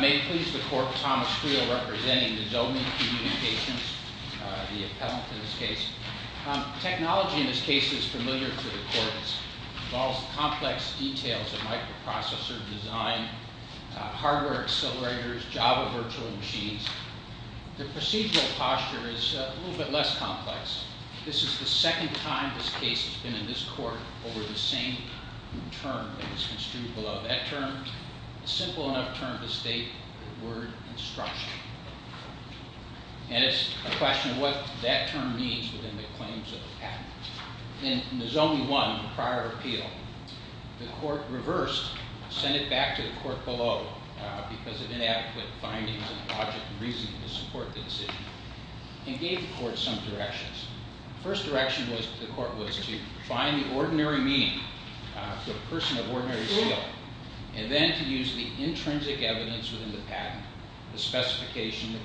May it please the court, Thomas Creel representing the Zomi Communications, the appellant in this case. The technology in this case is familiar to the court. It involves complex details of microprocessor design, hardware accelerators, Java virtual machines. The procedural posture is a little bit less complex. This is the second time this case has been in this court over the same term that was construed below that term, a simple enough term to state the word instruction. And it's a question of what that term means within the claims of the patent. In the Zomi 1 prior appeal, the court reversed, sent it back to the court below because of inadequate findings and logic and reasoning to support the decision and gave the court some directions. The first direction to the court was to find the ordinary meaning for a person of ordinary skill and then to use the intrinsic evidence within the patent, the specification, the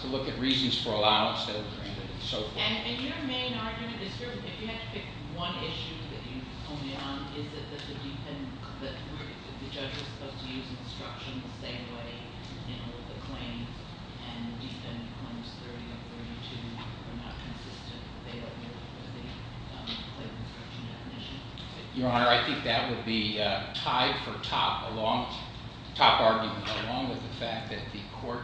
to look at reasons for allowance that were granted and so forth. And your main argument, if you had to pick one issue that you only on, is that the judge was supposed to use instruction the same way in all of the claims and the defendant claims 30 of 32 were not consistent with the claim instruction definition? Your Honor, I think that would be tied for top argument along with the fact that the court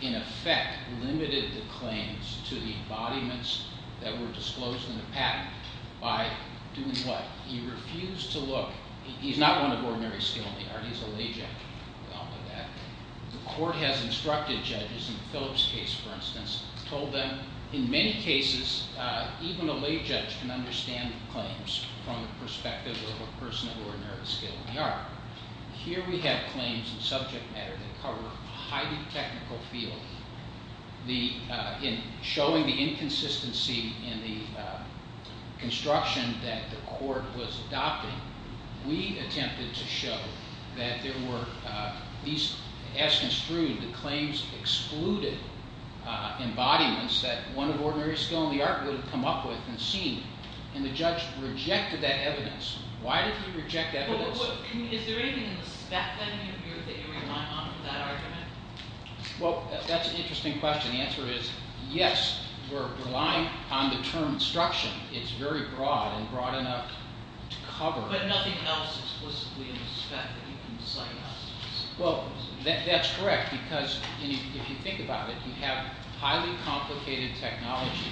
in effect limited the claims to the embodiments that were disclosed in the patent by doing what? He refused to look. He's not one of ordinary skill in the art. He's a lay judge. We all know that. The court has instructed judges in Philip's case, for instance, told them in many cases even a lay judge can understand claims from the perspective of a person of ordinary skill in the art. Here we have claims in subject matter that cover a highly technical field. In showing the inconsistency in the construction that the court was adopting, we attempted to show that there were, as construed, the claims excluded embodiments that one of ordinary skill in the art would have come up with and seen. And the judge rejected that evidence. Why did he reject evidence? Is there anything in the spec that you rely on for that argument? Well, that's an interesting question. The answer is yes, we're relying on the term instruction. It's very broad and broad enough to cover. But nothing else explicitly in the spec that you can cite us. Well, that's correct because if you think about it, you have highly complicated technology.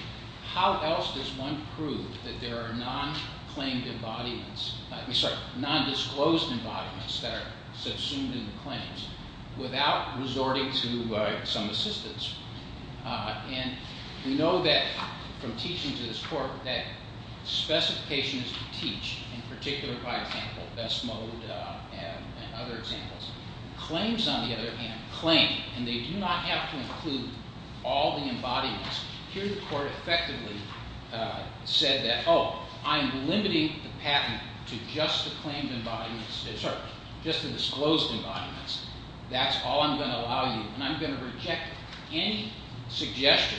How else does one prove that there are non-disclosed embodiments that are subsumed in the claims without resorting to some assistance? And we know that from teaching to this court that specification is to teach, in particular by example, best mode and other examples. Claims, on the other hand, claim. And they do not have to include all the embodiments. Here the court effectively said that, oh, I'm limiting the patent to just the claimed embodiments, just the disclosed embodiments. That's all I'm going to allow you. And I'm going to reject any suggestion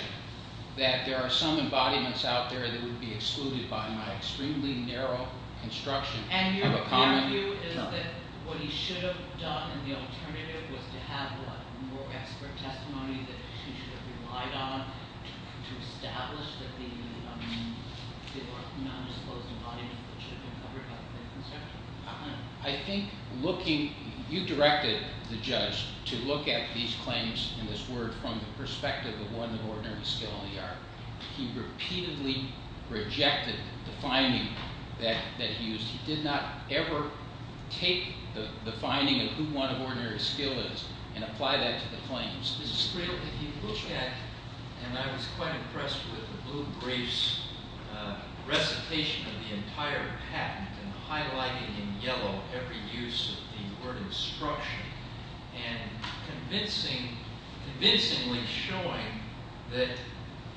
that there are some embodiments out there that would be excluded by my extremely narrow construction of a comment. And your view is that what he should have done in the alternative was to have more expert testimony that he should have relied on to establish that there are non-disclosed embodiments that should have been covered by the claim construction? I think looking, you directed the judge to look at these claims and this word from the perspective of one of ordinary skill in the art. He repeatedly rejected the finding that he used. He did not ever take the finding of who one of ordinary skill is and apply that to the claims. This is clearly, if you look at, and I was quite impressed with the Blue Brief's recitation of the entire patent and highlighting in yellow every use of the word instruction and convincingly showing that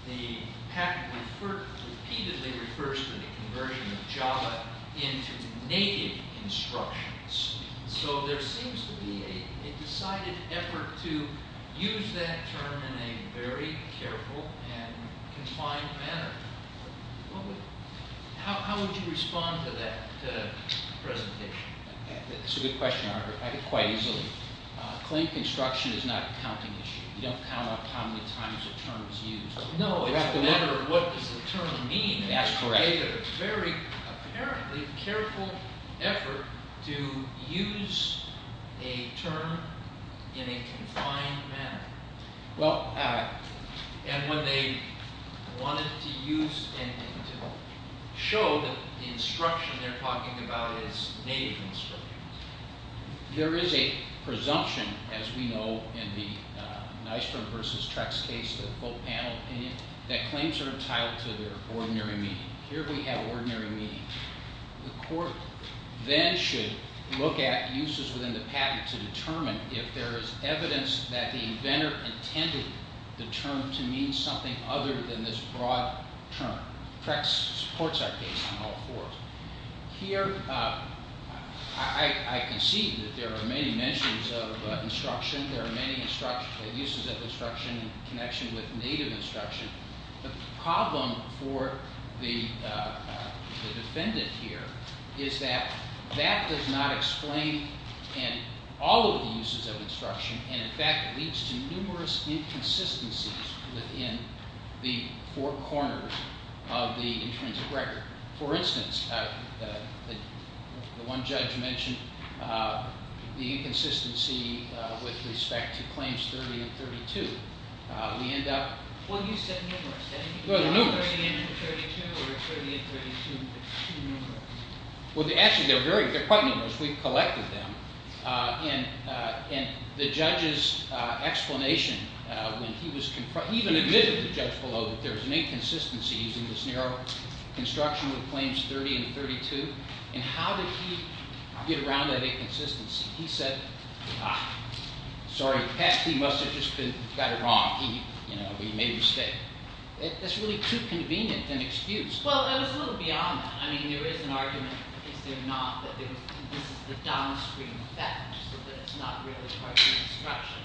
the patent repeatedly refers to the conversion of Java into native instructions. So there seems to be a decided effort to use that term in a very careful and confined manner. How would you respond to that presentation? That's a good question, Arthur. I could quite easily. Claim construction is not a counting issue. You don't count up how many times a term is used. No, it's a matter of what does the term mean. It's a very, apparently, careful effort to use a term in a confined manner. And when they wanted to use and to show that the instruction they're talking about is native instruction. There is a presumption, as we know, in the Nystrom v. Trex case, the full panel opinion, that claims are entitled to their ordinary meaning. Here we have ordinary meaning. The court then should look at uses within the patent to determine if there is evidence that the inventor intended the term to mean something other than this broad term. Trex supports our case on all fours. Here, I can see that there are many mentions of instruction. There are many uses of instruction in connection with native instruction. The problem for the defendant here is that that does not explain all of the uses of instruction. And in fact, it leads to numerous inconsistencies within the four corners of the intrinsic record. For instance, the one judge mentioned the inconsistency with respect to claims 30 and 32. We end up… Well, you said numerous, didn't you? Well, numerous. 30 and 32 or 30 and 32, two numerous. Well, actually, they're quite numerous. We've collected them. And the judge's explanation when he was confronted, he even admitted to the judge below, that there was an inconsistency using this narrow construction with claims 30 and 32. And how did he get around that inconsistency? He said, sorry, perhaps he must have just got it wrong. He made a mistake. That's really too convenient an excuse. Well, it was a little beyond that. I mean, there is an argument that this is the downstream effect so that it's not really part of the instruction.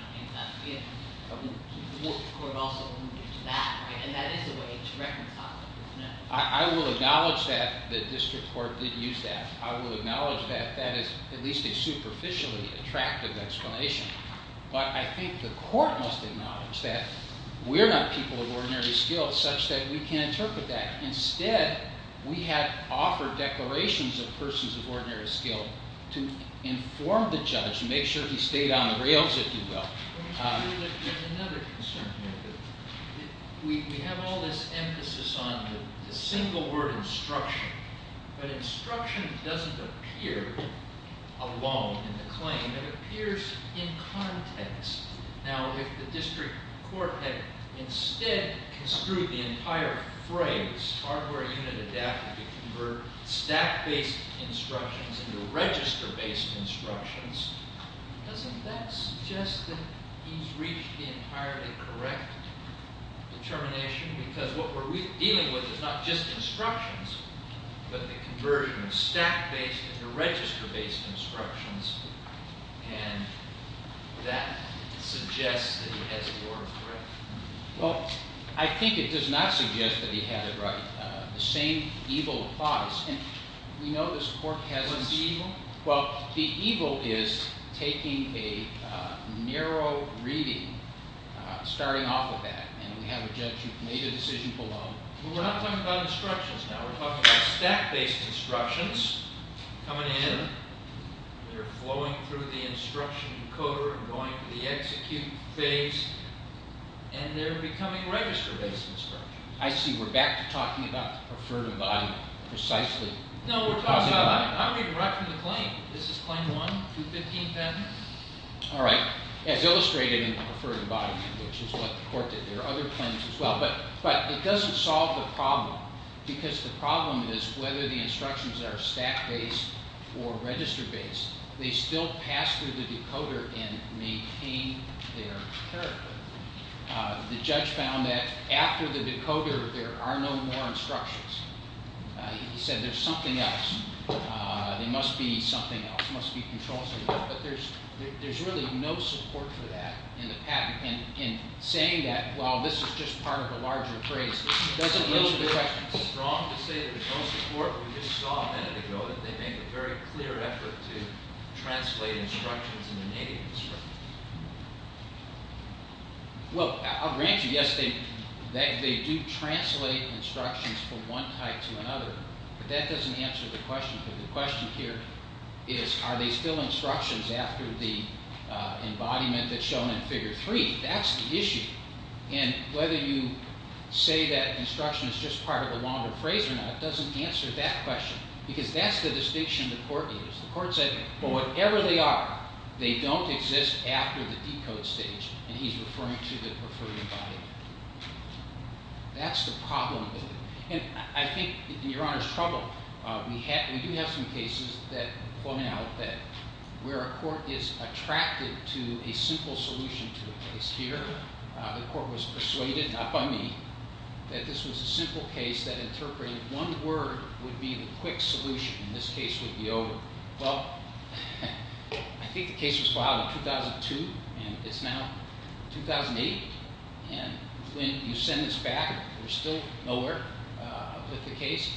The district court also used that, right? And that is a way to reconcile. I will acknowledge that the district court did use that. I will acknowledge that that is at least a superficially attractive explanation. But I think the court must acknowledge that we're not people of ordinary skill such that we can't interpret that. Instead, we have offered declarations of persons of ordinary skill to inform the judge, to make sure he stayed on the rails, if you will. Another concern here, we have all this emphasis on the single word instruction. But instruction doesn't appear alone in the claim. It appears in context. Now, if the district court had instead construed the entire phrase, hardware unit adapted to convert stack-based instructions into register-based instructions, doesn't that suggest that he's reached the entirely correct determination? Because what we're dealing with is not just instructions, but the conversion of stack-based into register-based instructions. And that suggests that he has the order correct. Well, I think it does not suggest that he had it right. The same evil applies. And we know this court has a— What's the evil? Well, the evil is taking a narrow reading, starting off with that. And we have a judge who made a decision below. Well, we're not talking about instructions now. We're talking about stack-based instructions coming in. They're flowing through the instruction encoder and going to the execute phase. And they're becoming register-based instructions. I see. We're back to talking about the preferred embodiment. Precisely. No, we're talking about—I'm reading right from the claim. This is Claim 1, 215-10. All right. As illustrated in the preferred embodiment, which is what the court did. There are other claims as well. But it doesn't solve the problem, because the problem is whether the instructions are stack-based or register-based, they still pass through the decoder and maintain their character. The judge found that after the decoder, there are no more instructions. He said there's something else. There must be something else. There must be control somewhere. But there's really no support for that in the patent. And in saying that, while this is just part of a larger phrase, it doesn't answer the question. It's wrong to say that there's no support. We just saw a minute ago that they make a very clear effort to translate instructions into native instructions. Well, I'll grant you, yes, they do translate instructions from one type to another. But that doesn't answer the question. The question here is, are they still instructions after the embodiment that's shown in Figure 3? That's the issue. And whether you say that instruction is just part of the longer phrase or not doesn't answer that question, because that's the distinction the court needs. The court said, well, whatever they are, they don't exist after the decode stage. And he's referring to the preferred embodiment. That's the problem with it. And I think, in Your Honor's trouble, we do have some cases that point out that where a court is attracted to a simple solution to a case. Here, the court was persuaded, not by me, that this was a simple case that interpreted one word would be the quick solution, and this case would be over. Well, I think the case was filed in 2002, and it's now 2008. And when you send this back, we're still nowhere with the case.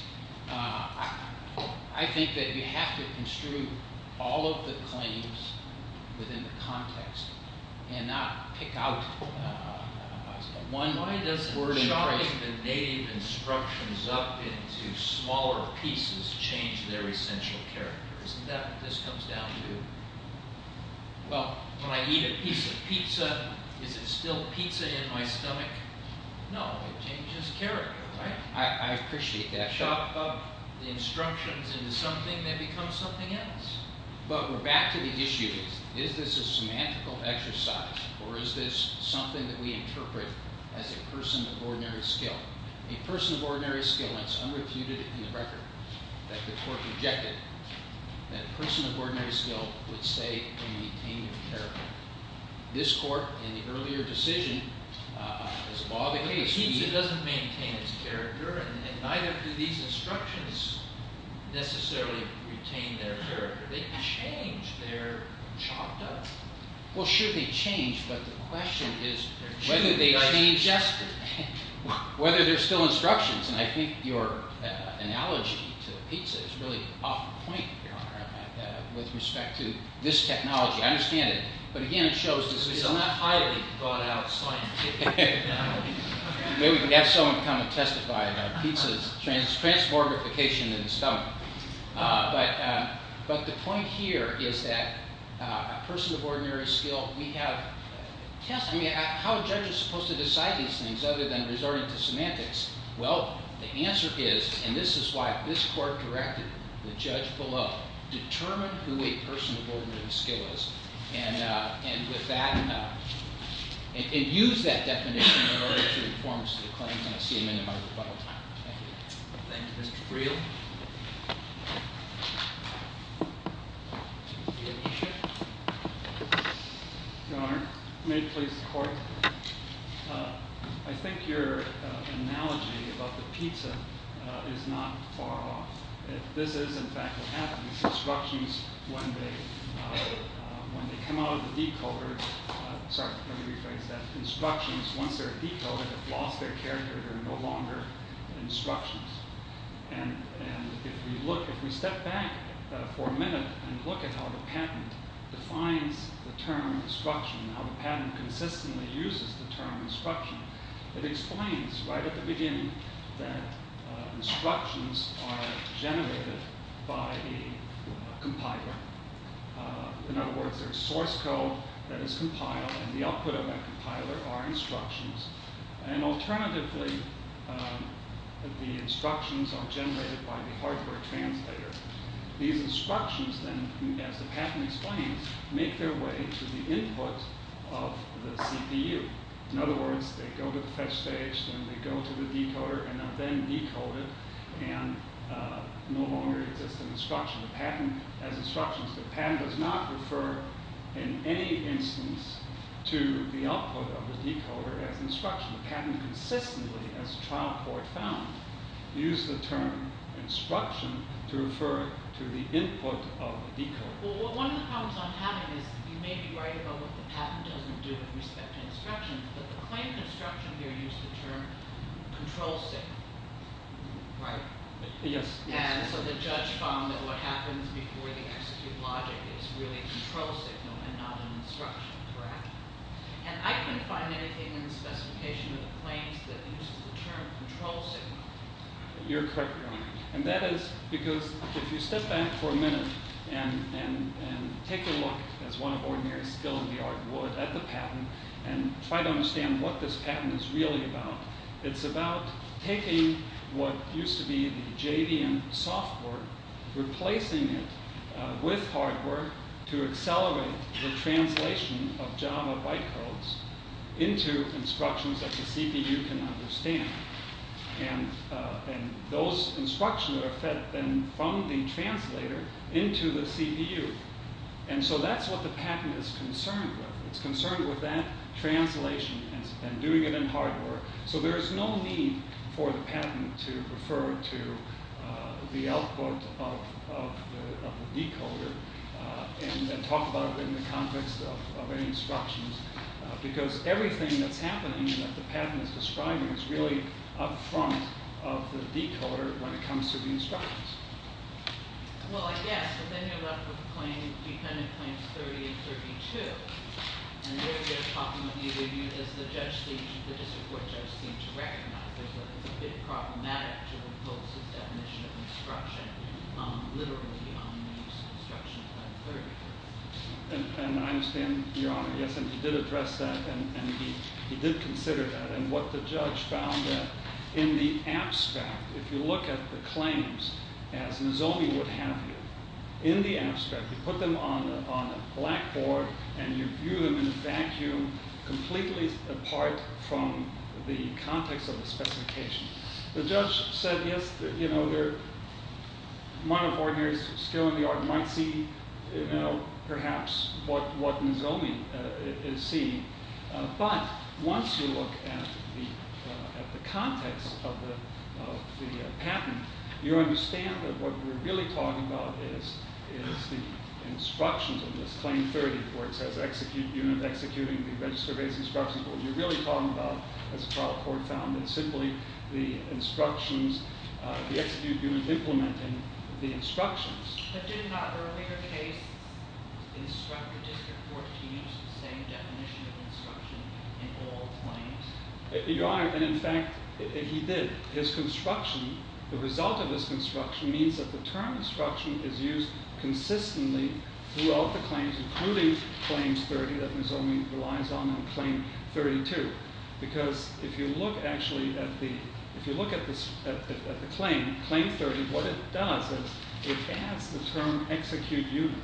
I think that you have to construe all of the claims within the context and not pick out one. Why doesn't chopping the native instructions up into smaller pieces change their essential character? Isn't that what this comes down to? Well, when I eat a piece of pizza, is it still pizza in my stomach? No, it changes character, right? I appreciate that. Chop up the instructions into something that becomes something else. But we're back to the issue. Is this a semantical exercise, or is this something that we interpret as a person of ordinary skill? A person of ordinary skill, and it's unrefuted in the record that the court rejected, that a person of ordinary skill would stay and maintain their character. This court, in the earlier decision, as a bobbing of the speed... Pizza doesn't maintain its character, and neither do these instructions necessarily retain their character. They change their chopped up... Well, should they change, but the question is whether they change... Whether they're still instructions, and I think your analogy to pizza is really off the point, Your Honor, with respect to this technology. I understand it, but again, it shows... It's not highly brought out scientific. Maybe we can have someone come and testify about pizza's trans-borderification in the stomach. But the point here is that a person of ordinary skill, we have... How a judge is supposed to decide these things, other than resorting to semantics? Well, the answer is, and this is why this court directed the judge below, determine who a person of ordinary skill is, and with that... And use that definition in order to inform us of the claims, and I see him in my rebuttal time. Thank you. Thank you, Mr. Briel. Your Honor, may it please the court? I think your analogy about the pizza is not far off. This is, in fact, what happens. Instructions, when they come out of the decoder... Sorry, let me rephrase that. Instructions, once they're decoded, have lost their character. They're no longer instructions. And if we step back for a minute and look at how the patent defines the term instruction, how the patent consistently uses the term instruction, it explains right at the beginning that instructions are generated by a compiler. In other words, there's source code that is compiled, and the output of that compiler are instructions. And alternatively, the instructions are generated by the hardware translator. These instructions, then, as the patent explains, make their way to the input of the CPU. In other words, they go to the fetch stage, then they go to the decoder, and are then decoded, and no longer exist in instruction. The patent has instructions. The patent does not refer in any instance to the output of the decoder as instruction. The patent consistently, as trial court found, used the term instruction to refer to the input of the decoder. Well, one of the problems I'm having is you may be right about what the patent doesn't do with respect to instructions, but the claim to instruction here used the term control signal, right? Yes. And so the judge found that what happens before the execute logic is really control signal, and not an instruction, correct? And I couldn't find anything in the specification of the claims that uses the term control signal. You're correct, Your Honor. And that is because if you step back for a minute and take a look, as one of ordinary skill in the art would, at the patent, and try to understand what this patent is really about, it's about taking what used to be the JVM software, replacing it with hardware to accelerate the translation of Java byte codes into instructions that the CPU can understand. And those instructions are fed then from the translator into the CPU. And so that's what the patent is concerned with. It's concerned with that translation and doing it in hardware so there is no need for the patent to refer to the output of the decoder and talk about it in the context of any instructions because everything that's happening that the patent is describing is really up front of the decoder when it comes to the instructions. Well, I guess, but then you're left with the defendant claims 30 and 32. And there they're talking with either of you, as the district court judge seemed to recognize that it's a bit problematic to impose this definition of instruction literally on an instruction of 30. And I understand, Your Honor, yes, and he did address that and he did consider that. And what the judge found that in the abstract, if you look at the claims as Nozomi would have you, in the abstract, you put them on a blackboard and you view them in a vacuum completely apart from the context of the specification. The judge said, yes, the monophore here is still in the art, might see perhaps what Nozomi is seeing. But once you look at the context of the patent, you understand that what we're really talking about is the instructions of this claim 30, where it says execute unit executing the register-based instructions. But what you're really talking about, as the trial court found, is simply the instructions, the execute unit implementing the instructions. But did not the earlier case instruct the district court to use the same definition of instruction in all claims? Your Honor, and in fact, he did. His construction, the result of his construction, means that the term instruction is used consistently throughout the claims, including claims 30 that Nozomi relies on and claim 32. Because if you look actually at the claim 30, what it does is it adds the term execute unit.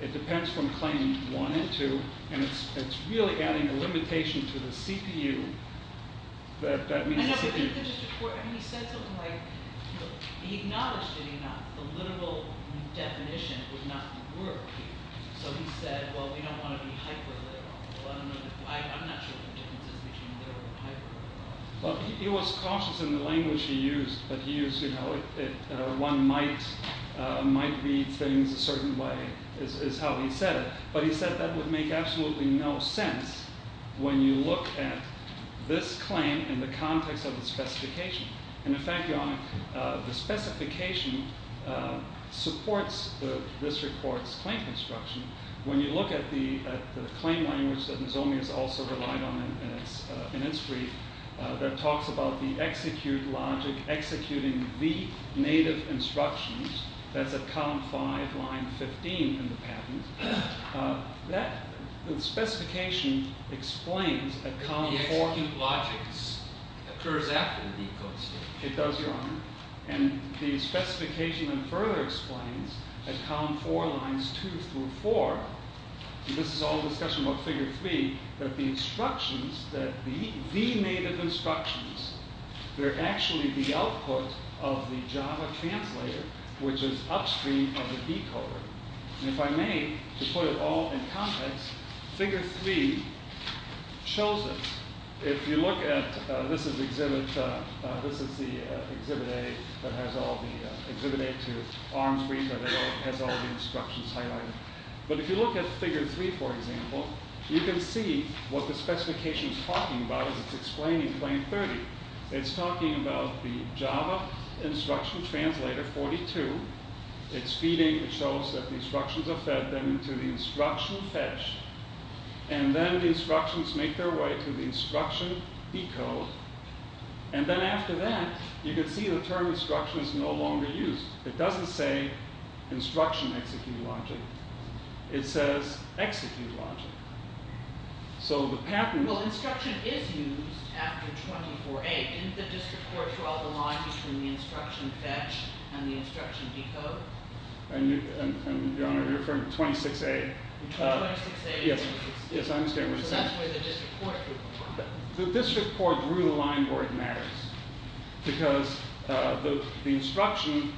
It depends from claim 1 and 2, and it's really adding a limitation to the CPU. And I think the district court, he said something like, he acknowledged it enough, the literal definition would not work. So he said, well, we don't want to be hyper-literal. I'm not sure what the difference is between literal and hyper-literal. He was cautious in the language he used. But he used, you know, one might read things a certain way, is how he said it. But he said that would make absolutely no sense when you look at this claim in the context of the specification. And in fact, Your Honor, the specification supports the district court's claim construction. When you look at the claim language that Nozomi has also relied on in its brief that talks about the execute logic, executing the native instructions, that's at column 5, line 15 in the patent, that specification explains at column 4. The execute logic occurs after the decode state. It does, Your Honor. And the specification further explains at column 4, lines 2 through 4, and this is all a discussion about figure 3, that the instructions, that the native instructions, they're actually the output of the Java translator, which is upstream of the decoder. And if I may, to put it all in context, figure 3 shows it. If you look at, this is exhibit, this is the exhibit A that has all the, exhibit A to arm's reach where they all, has all the instructions highlighted. But if you look at figure 3, for example, you can see what the specification's talking about as it's explaining claim 30. It's talking about the Java instruction translator 42. It's feeding, it shows that the instructions are fed then to the instruction fetch. And then the instructions make their way to the instruction decode. And then after that, you can see the term instruction is no longer used. It doesn't say instruction execute logic. It says execute logic. So the patent... Well, instruction is used after 24A. Didn't the district court draw the line between the instruction fetch and the instruction decode? Your Honor, you're referring to 26A. Yes, I understand what you're saying. So that's where the district court drew the line. The district court drew the line where it matters because the instruction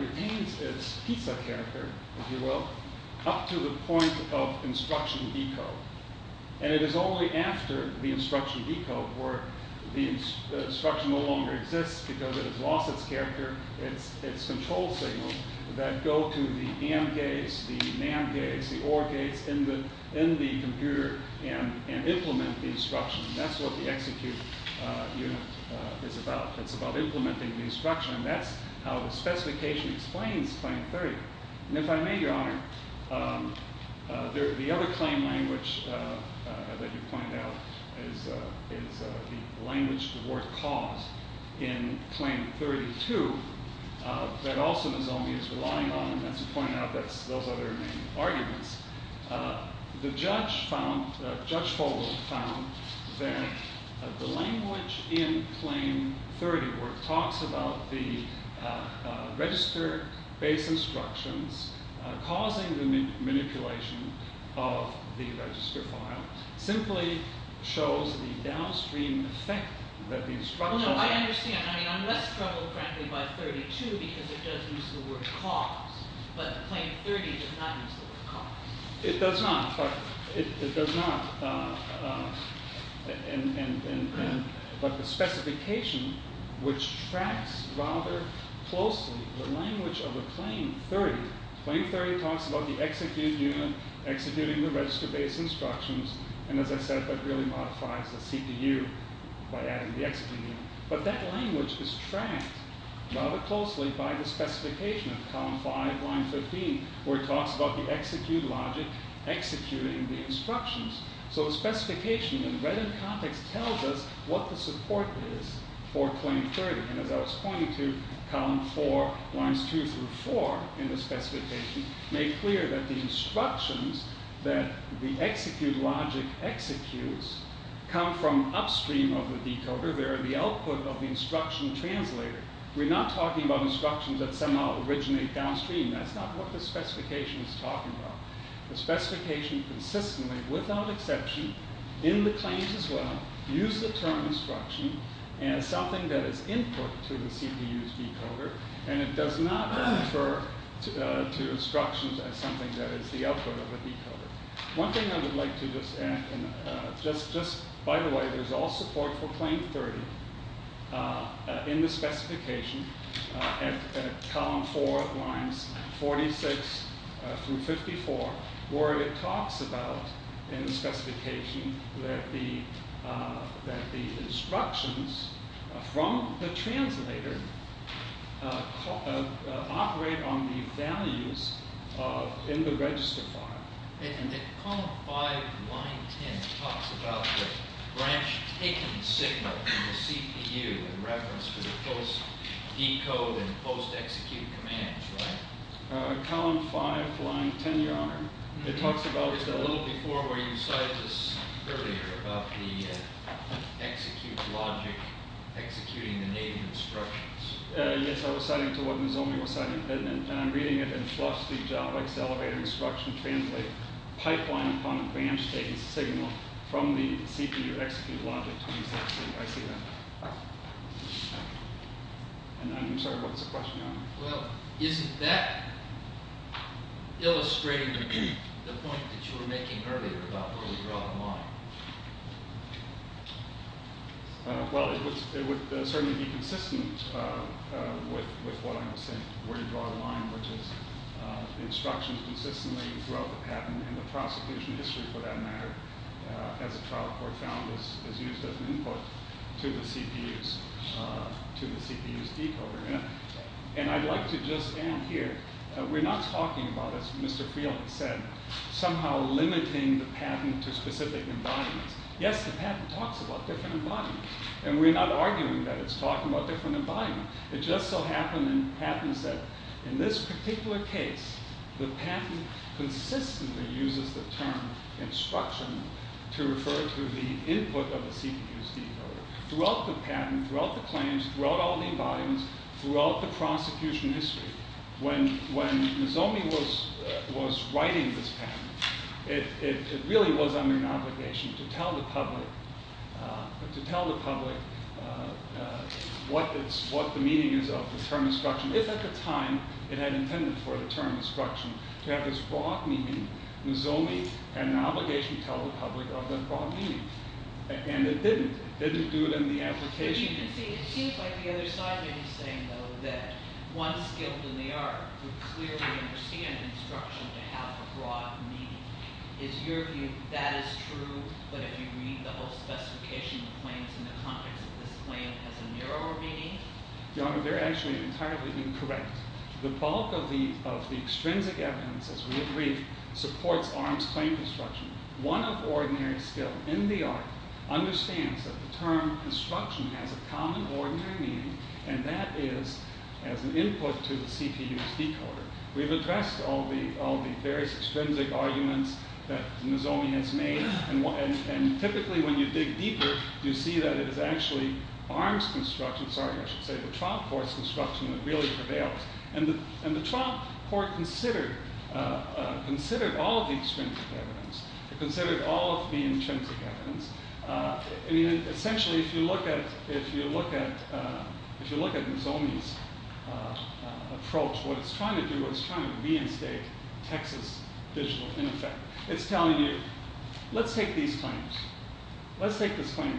retains its pizza character, if you will, up to the point of instruction decode. And it is only after the instruction decode where the instruction no longer exists because it has lost its character, its control signal, that go to the AND gates, the NAND gates, the OR gates in the computer and implement the instruction. And that's what the execute unit is about. It's about implementing the instruction. And that's how the specification explains claim 30. And if I may, Your Honor, the other claim language that you pointed out is the language the word caused in claim 32 that also the zombie is relying on, and that's to point out those other main arguments. The judge found, Judge Folwell found, that the language in claim 30 where it talks about the register-based instructions causing the manipulation of the register file simply shows the downstream effect that the instruction... Well, no, I understand. I mean, I'm less troubled, frankly, by 32 because it does use the word cause, but claim 30 does not use the word cause. It does not, but it does not. But the specification, which tracks rather closely the language of a claim 30, claim 30 talks about the execute unit executing the register-based instructions, and, as I said, that really modifies the CPU by adding the execute unit. But that language is tracked rather closely by the specification of column 5, line 15, where it talks about the execute logic executing the instructions. So the specification, when read in context, tells us what the support is for claim 30. And as I was pointing to, column 4, lines 2 through 4 in the specification make clear that the instructions that the execute logic executes come from upstream of the decoder. They're the output of the instruction translator. We're not talking about instructions that somehow originate downstream. That's not what the specification is talking about. The specification consistently, without exception, in the claims as well, uses the term instruction as something that is input to the CPU's decoder, and it does not refer to instructions as something that is the output of the decoder. One thing I would like to just add, just by the way, there's all support for claim 30 in the specification at column 4, lines 46 through 54, where it talks about, in the specification, that the instructions from the translator operate on the values in the register file. And column 5, line 10, talks about the branch taken signal from the CPU in reference to the post-decode and post-execute commands, right? Column 5, line 10, your honor, it talks about... A little before where you cited this earlier, about the execute logic executing the native instructions. Yes, I was citing it to what Misomi was citing, and I'm reading it, and plus the JAVAX elevator instruction translate pipeline upon a branch taken signal from the CPU execute logic to use that signal. I see that. And I'm sorry, what was the question, your honor? Well, isn't that illustrating the point that you were making earlier about where we draw the line? Well, it would certainly be consistent with what I was saying, where you draw the line, which is instructions consistently throughout the patent, and the prosecution history, for that matter, as a trial court found, is used as an input to the CPU's decoder. And I'd like to just add here, we're not talking about, as Mr. Freeland said, somehow limiting the patent to specific environments. Yes, the patent talks about different environments, and we're not arguing that it's talking about different environments. It just so happens in patents that in this particular case, the patent consistently uses the term instruction to refer to the input of the CPU's decoder throughout the patent, throughout the claims, throughout all the environments, throughout the prosecution history. When Nozomi was writing this patent, it really was under an obligation to tell the public what the meaning is of the term instruction. If at the time, it had intended for the term instruction to have this broad meaning, Nozomi had an obligation to tell the public of that broad meaning. And it didn't. It didn't do it in the application. But you can see, it seems like the other side may be saying, though, that one skilled in the art would clearly understand instruction to have a broad meaning. Is your view that is true, but if you read the whole specification of claims in the context of this claim as a narrow meaning? Your Honor, they're actually entirely incorrect. The bulk of the extrinsic evidence, as we agreed, supports arms claim construction. One of ordinary skill in the art understands that the term instruction has a common ordinary meaning, and that is as an input to the CPU's decoder. We've addressed all the various extrinsic arguments that Nozomi has made, and typically when you dig deeper, you see that it is actually arms construction, sorry, I should say the trial court's construction that really prevails. And the trial court considered all of the extrinsic evidence. It considered all of the intrinsic evidence. Essentially, if you look at Nozomi's approach, what it's trying to do is it's trying to reinstate Texas digital, in effect. It's telling you, let's take these claims. Let's take this claim.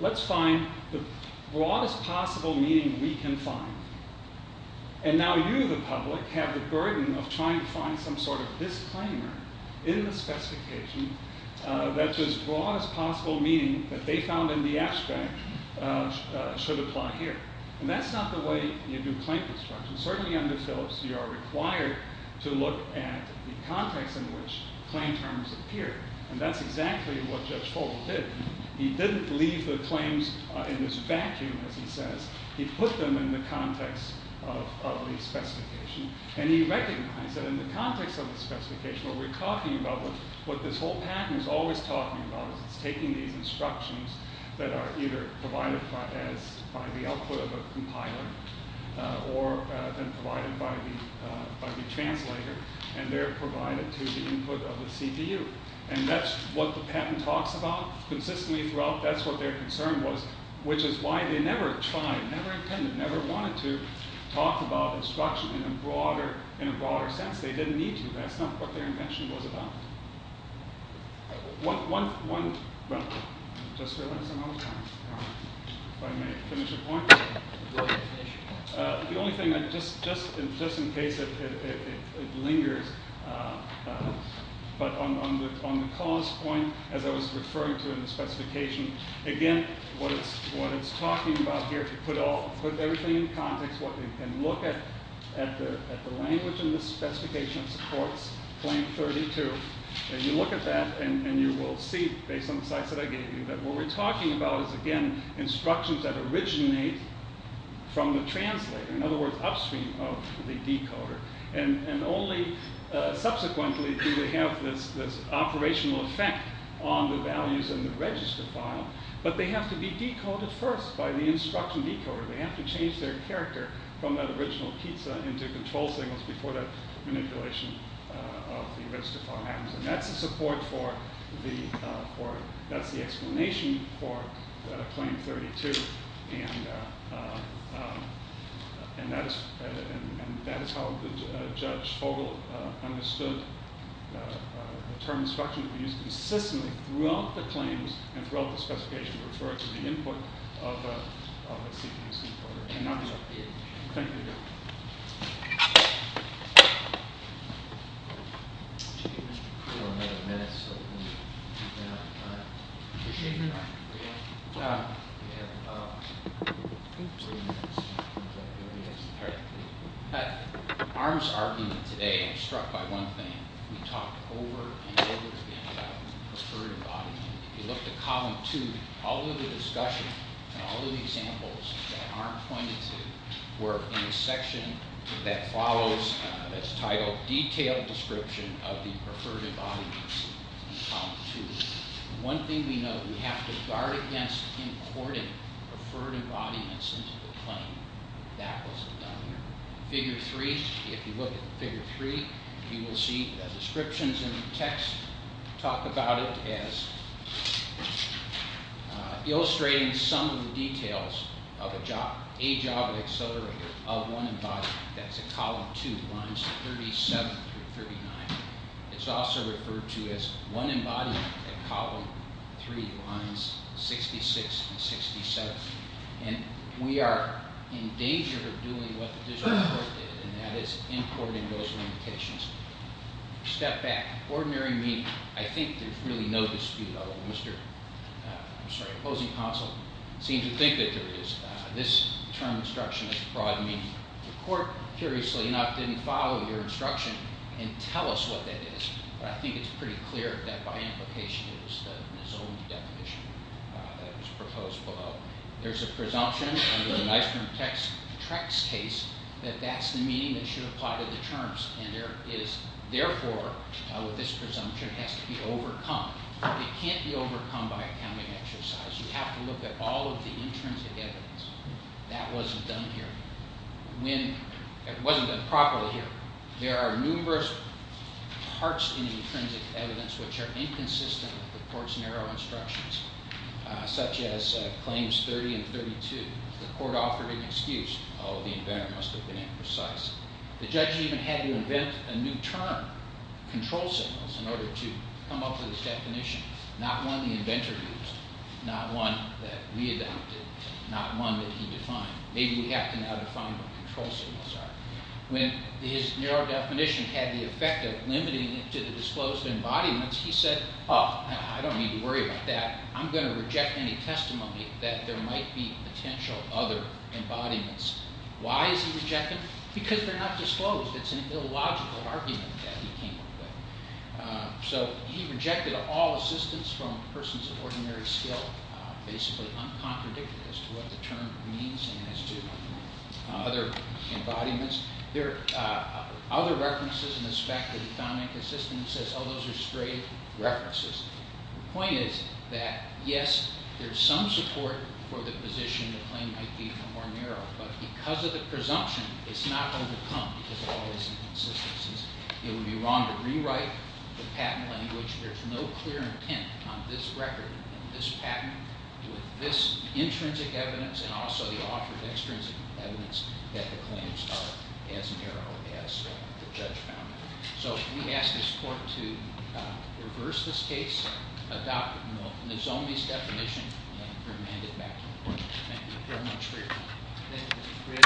Let's find the broadest possible meaning we can find. And now you, the public, have the burden of trying to find some sort of disclaimer in the specification that's as broad as possible meaning that they found in the abstract should apply here. And that's not the way you do claim construction. Certainly under Phillips, you are required to look at the context in which claim terms appear, and that's exactly what Judge Holt did. He didn't leave the claims in this vacuum, as he says. He put them in the context of the specification, and he recognized that in the context of the specification, what we're talking about, what this whole patent is always talking about is it's taking these instructions that are either provided by the output of a compiler or then provided by the translator, and they're provided to the input of the CPU. And that's what the patent talks about consistently throughout. That's what their concern was, which is why they never tried, never intended, never wanted to talk about instruction in a broader sense. They didn't need to. That's not what their invention was about. One, well, I just realized I'm out of time. If I may finish a point. The only thing, just in case it lingers, but on the cause point, as I was referring to in the specification, again, what it's talking about here, to put everything in context, what they can look at, at the language and the specification supports, plan 32, and you look at that and you will see, based on the slides that I gave you, that what we're talking about is, again, instructions that originate from the translator, in other words, upstream of the decoder, and only subsequently do they have this operational effect on the values in the register file, but they have to be decoded first by the instruction decoder. They have to change their character from that original pizza into control signals before that manipulation of the register file happens, and that's the explanation for claim 32, and that is how Judge Fogel understood the term instruction to be used consistently throughout the claims and throughout the specification in reference to the input of the CPC. Thank you. Arm's argument today is struck by one thing. We talked over and over again about assertive auditing. If you look at Column 2, all of the discussion, all of the examples that Arm pointed to were in the section that follows, that's titled Detailed Description of the Preferred Embodiments in Column 2. One thing we know, we have to guard against importing preferred embodiments into the claim. That wasn't done here. Figure 3, if you look at Figure 3, you will see the descriptions in the text talk about it as illustrating some of the details of a job of accelerator of one embodiment. That's at Column 2, lines 37 through 39. It's also referred to as one embodiment at Column 3, lines 66 and 67, and we are in danger of doing what the district court did, and that is importing those limitations. Step back. Ordinary meaning. I think there's really no dispute, although the opposing counsel seems to think that there is. This term, instruction, has a broad meaning. The court, curiously enough, didn't follow your instruction and tell us what that is, but I think it's pretty clear that, by implication, it was his own definition that was proposed below. There's a presumption under the Knifeman-Trex case that that's the meaning that should apply to the terms, and therefore, with this presumption, it has to be overcome. It can't be overcome by accounting exercise. You have to look at all of the intrinsic evidence. That wasn't done here. It wasn't done properly here. There are numerous parts in the intrinsic evidence which are inconsistent with the court's narrow instructions, such as Claims 30 and 32. The court offered an excuse. Oh, the inventor must have been imprecise. The judge even had to invent a new term, control signals, in order to come up with his definition. Not one the inventor used, not one that we adopted, not one that he defined. Maybe we have to now define what control signals are. When his narrow definition had the effect of limiting it to the disclosed embodiments, he said, oh, I don't need to worry about that. I'm going to reject any testimony that there might be potential other embodiments. Why is he rejecting? Because they're not disclosed. It's an illogical argument that he came up with. So he rejected all assistance from persons of ordinary skill, basically uncontradicted as to what the term means and as to other embodiments. There are other references in the spec that he found inconsistent. He says, oh, those are straight references. The point is that, yes, there's some support for the position the claim might be more narrow, but because of the presumption, it's not going to come because of all these inconsistencies. It would be wrong to rewrite the patent language. There's no clear intent on this record in this patent with this intrinsic evidence and also the author of extrinsic evidence that the claims are as narrow as the judge found them. So we ask this court to reverse this case, Thank you very much for your time.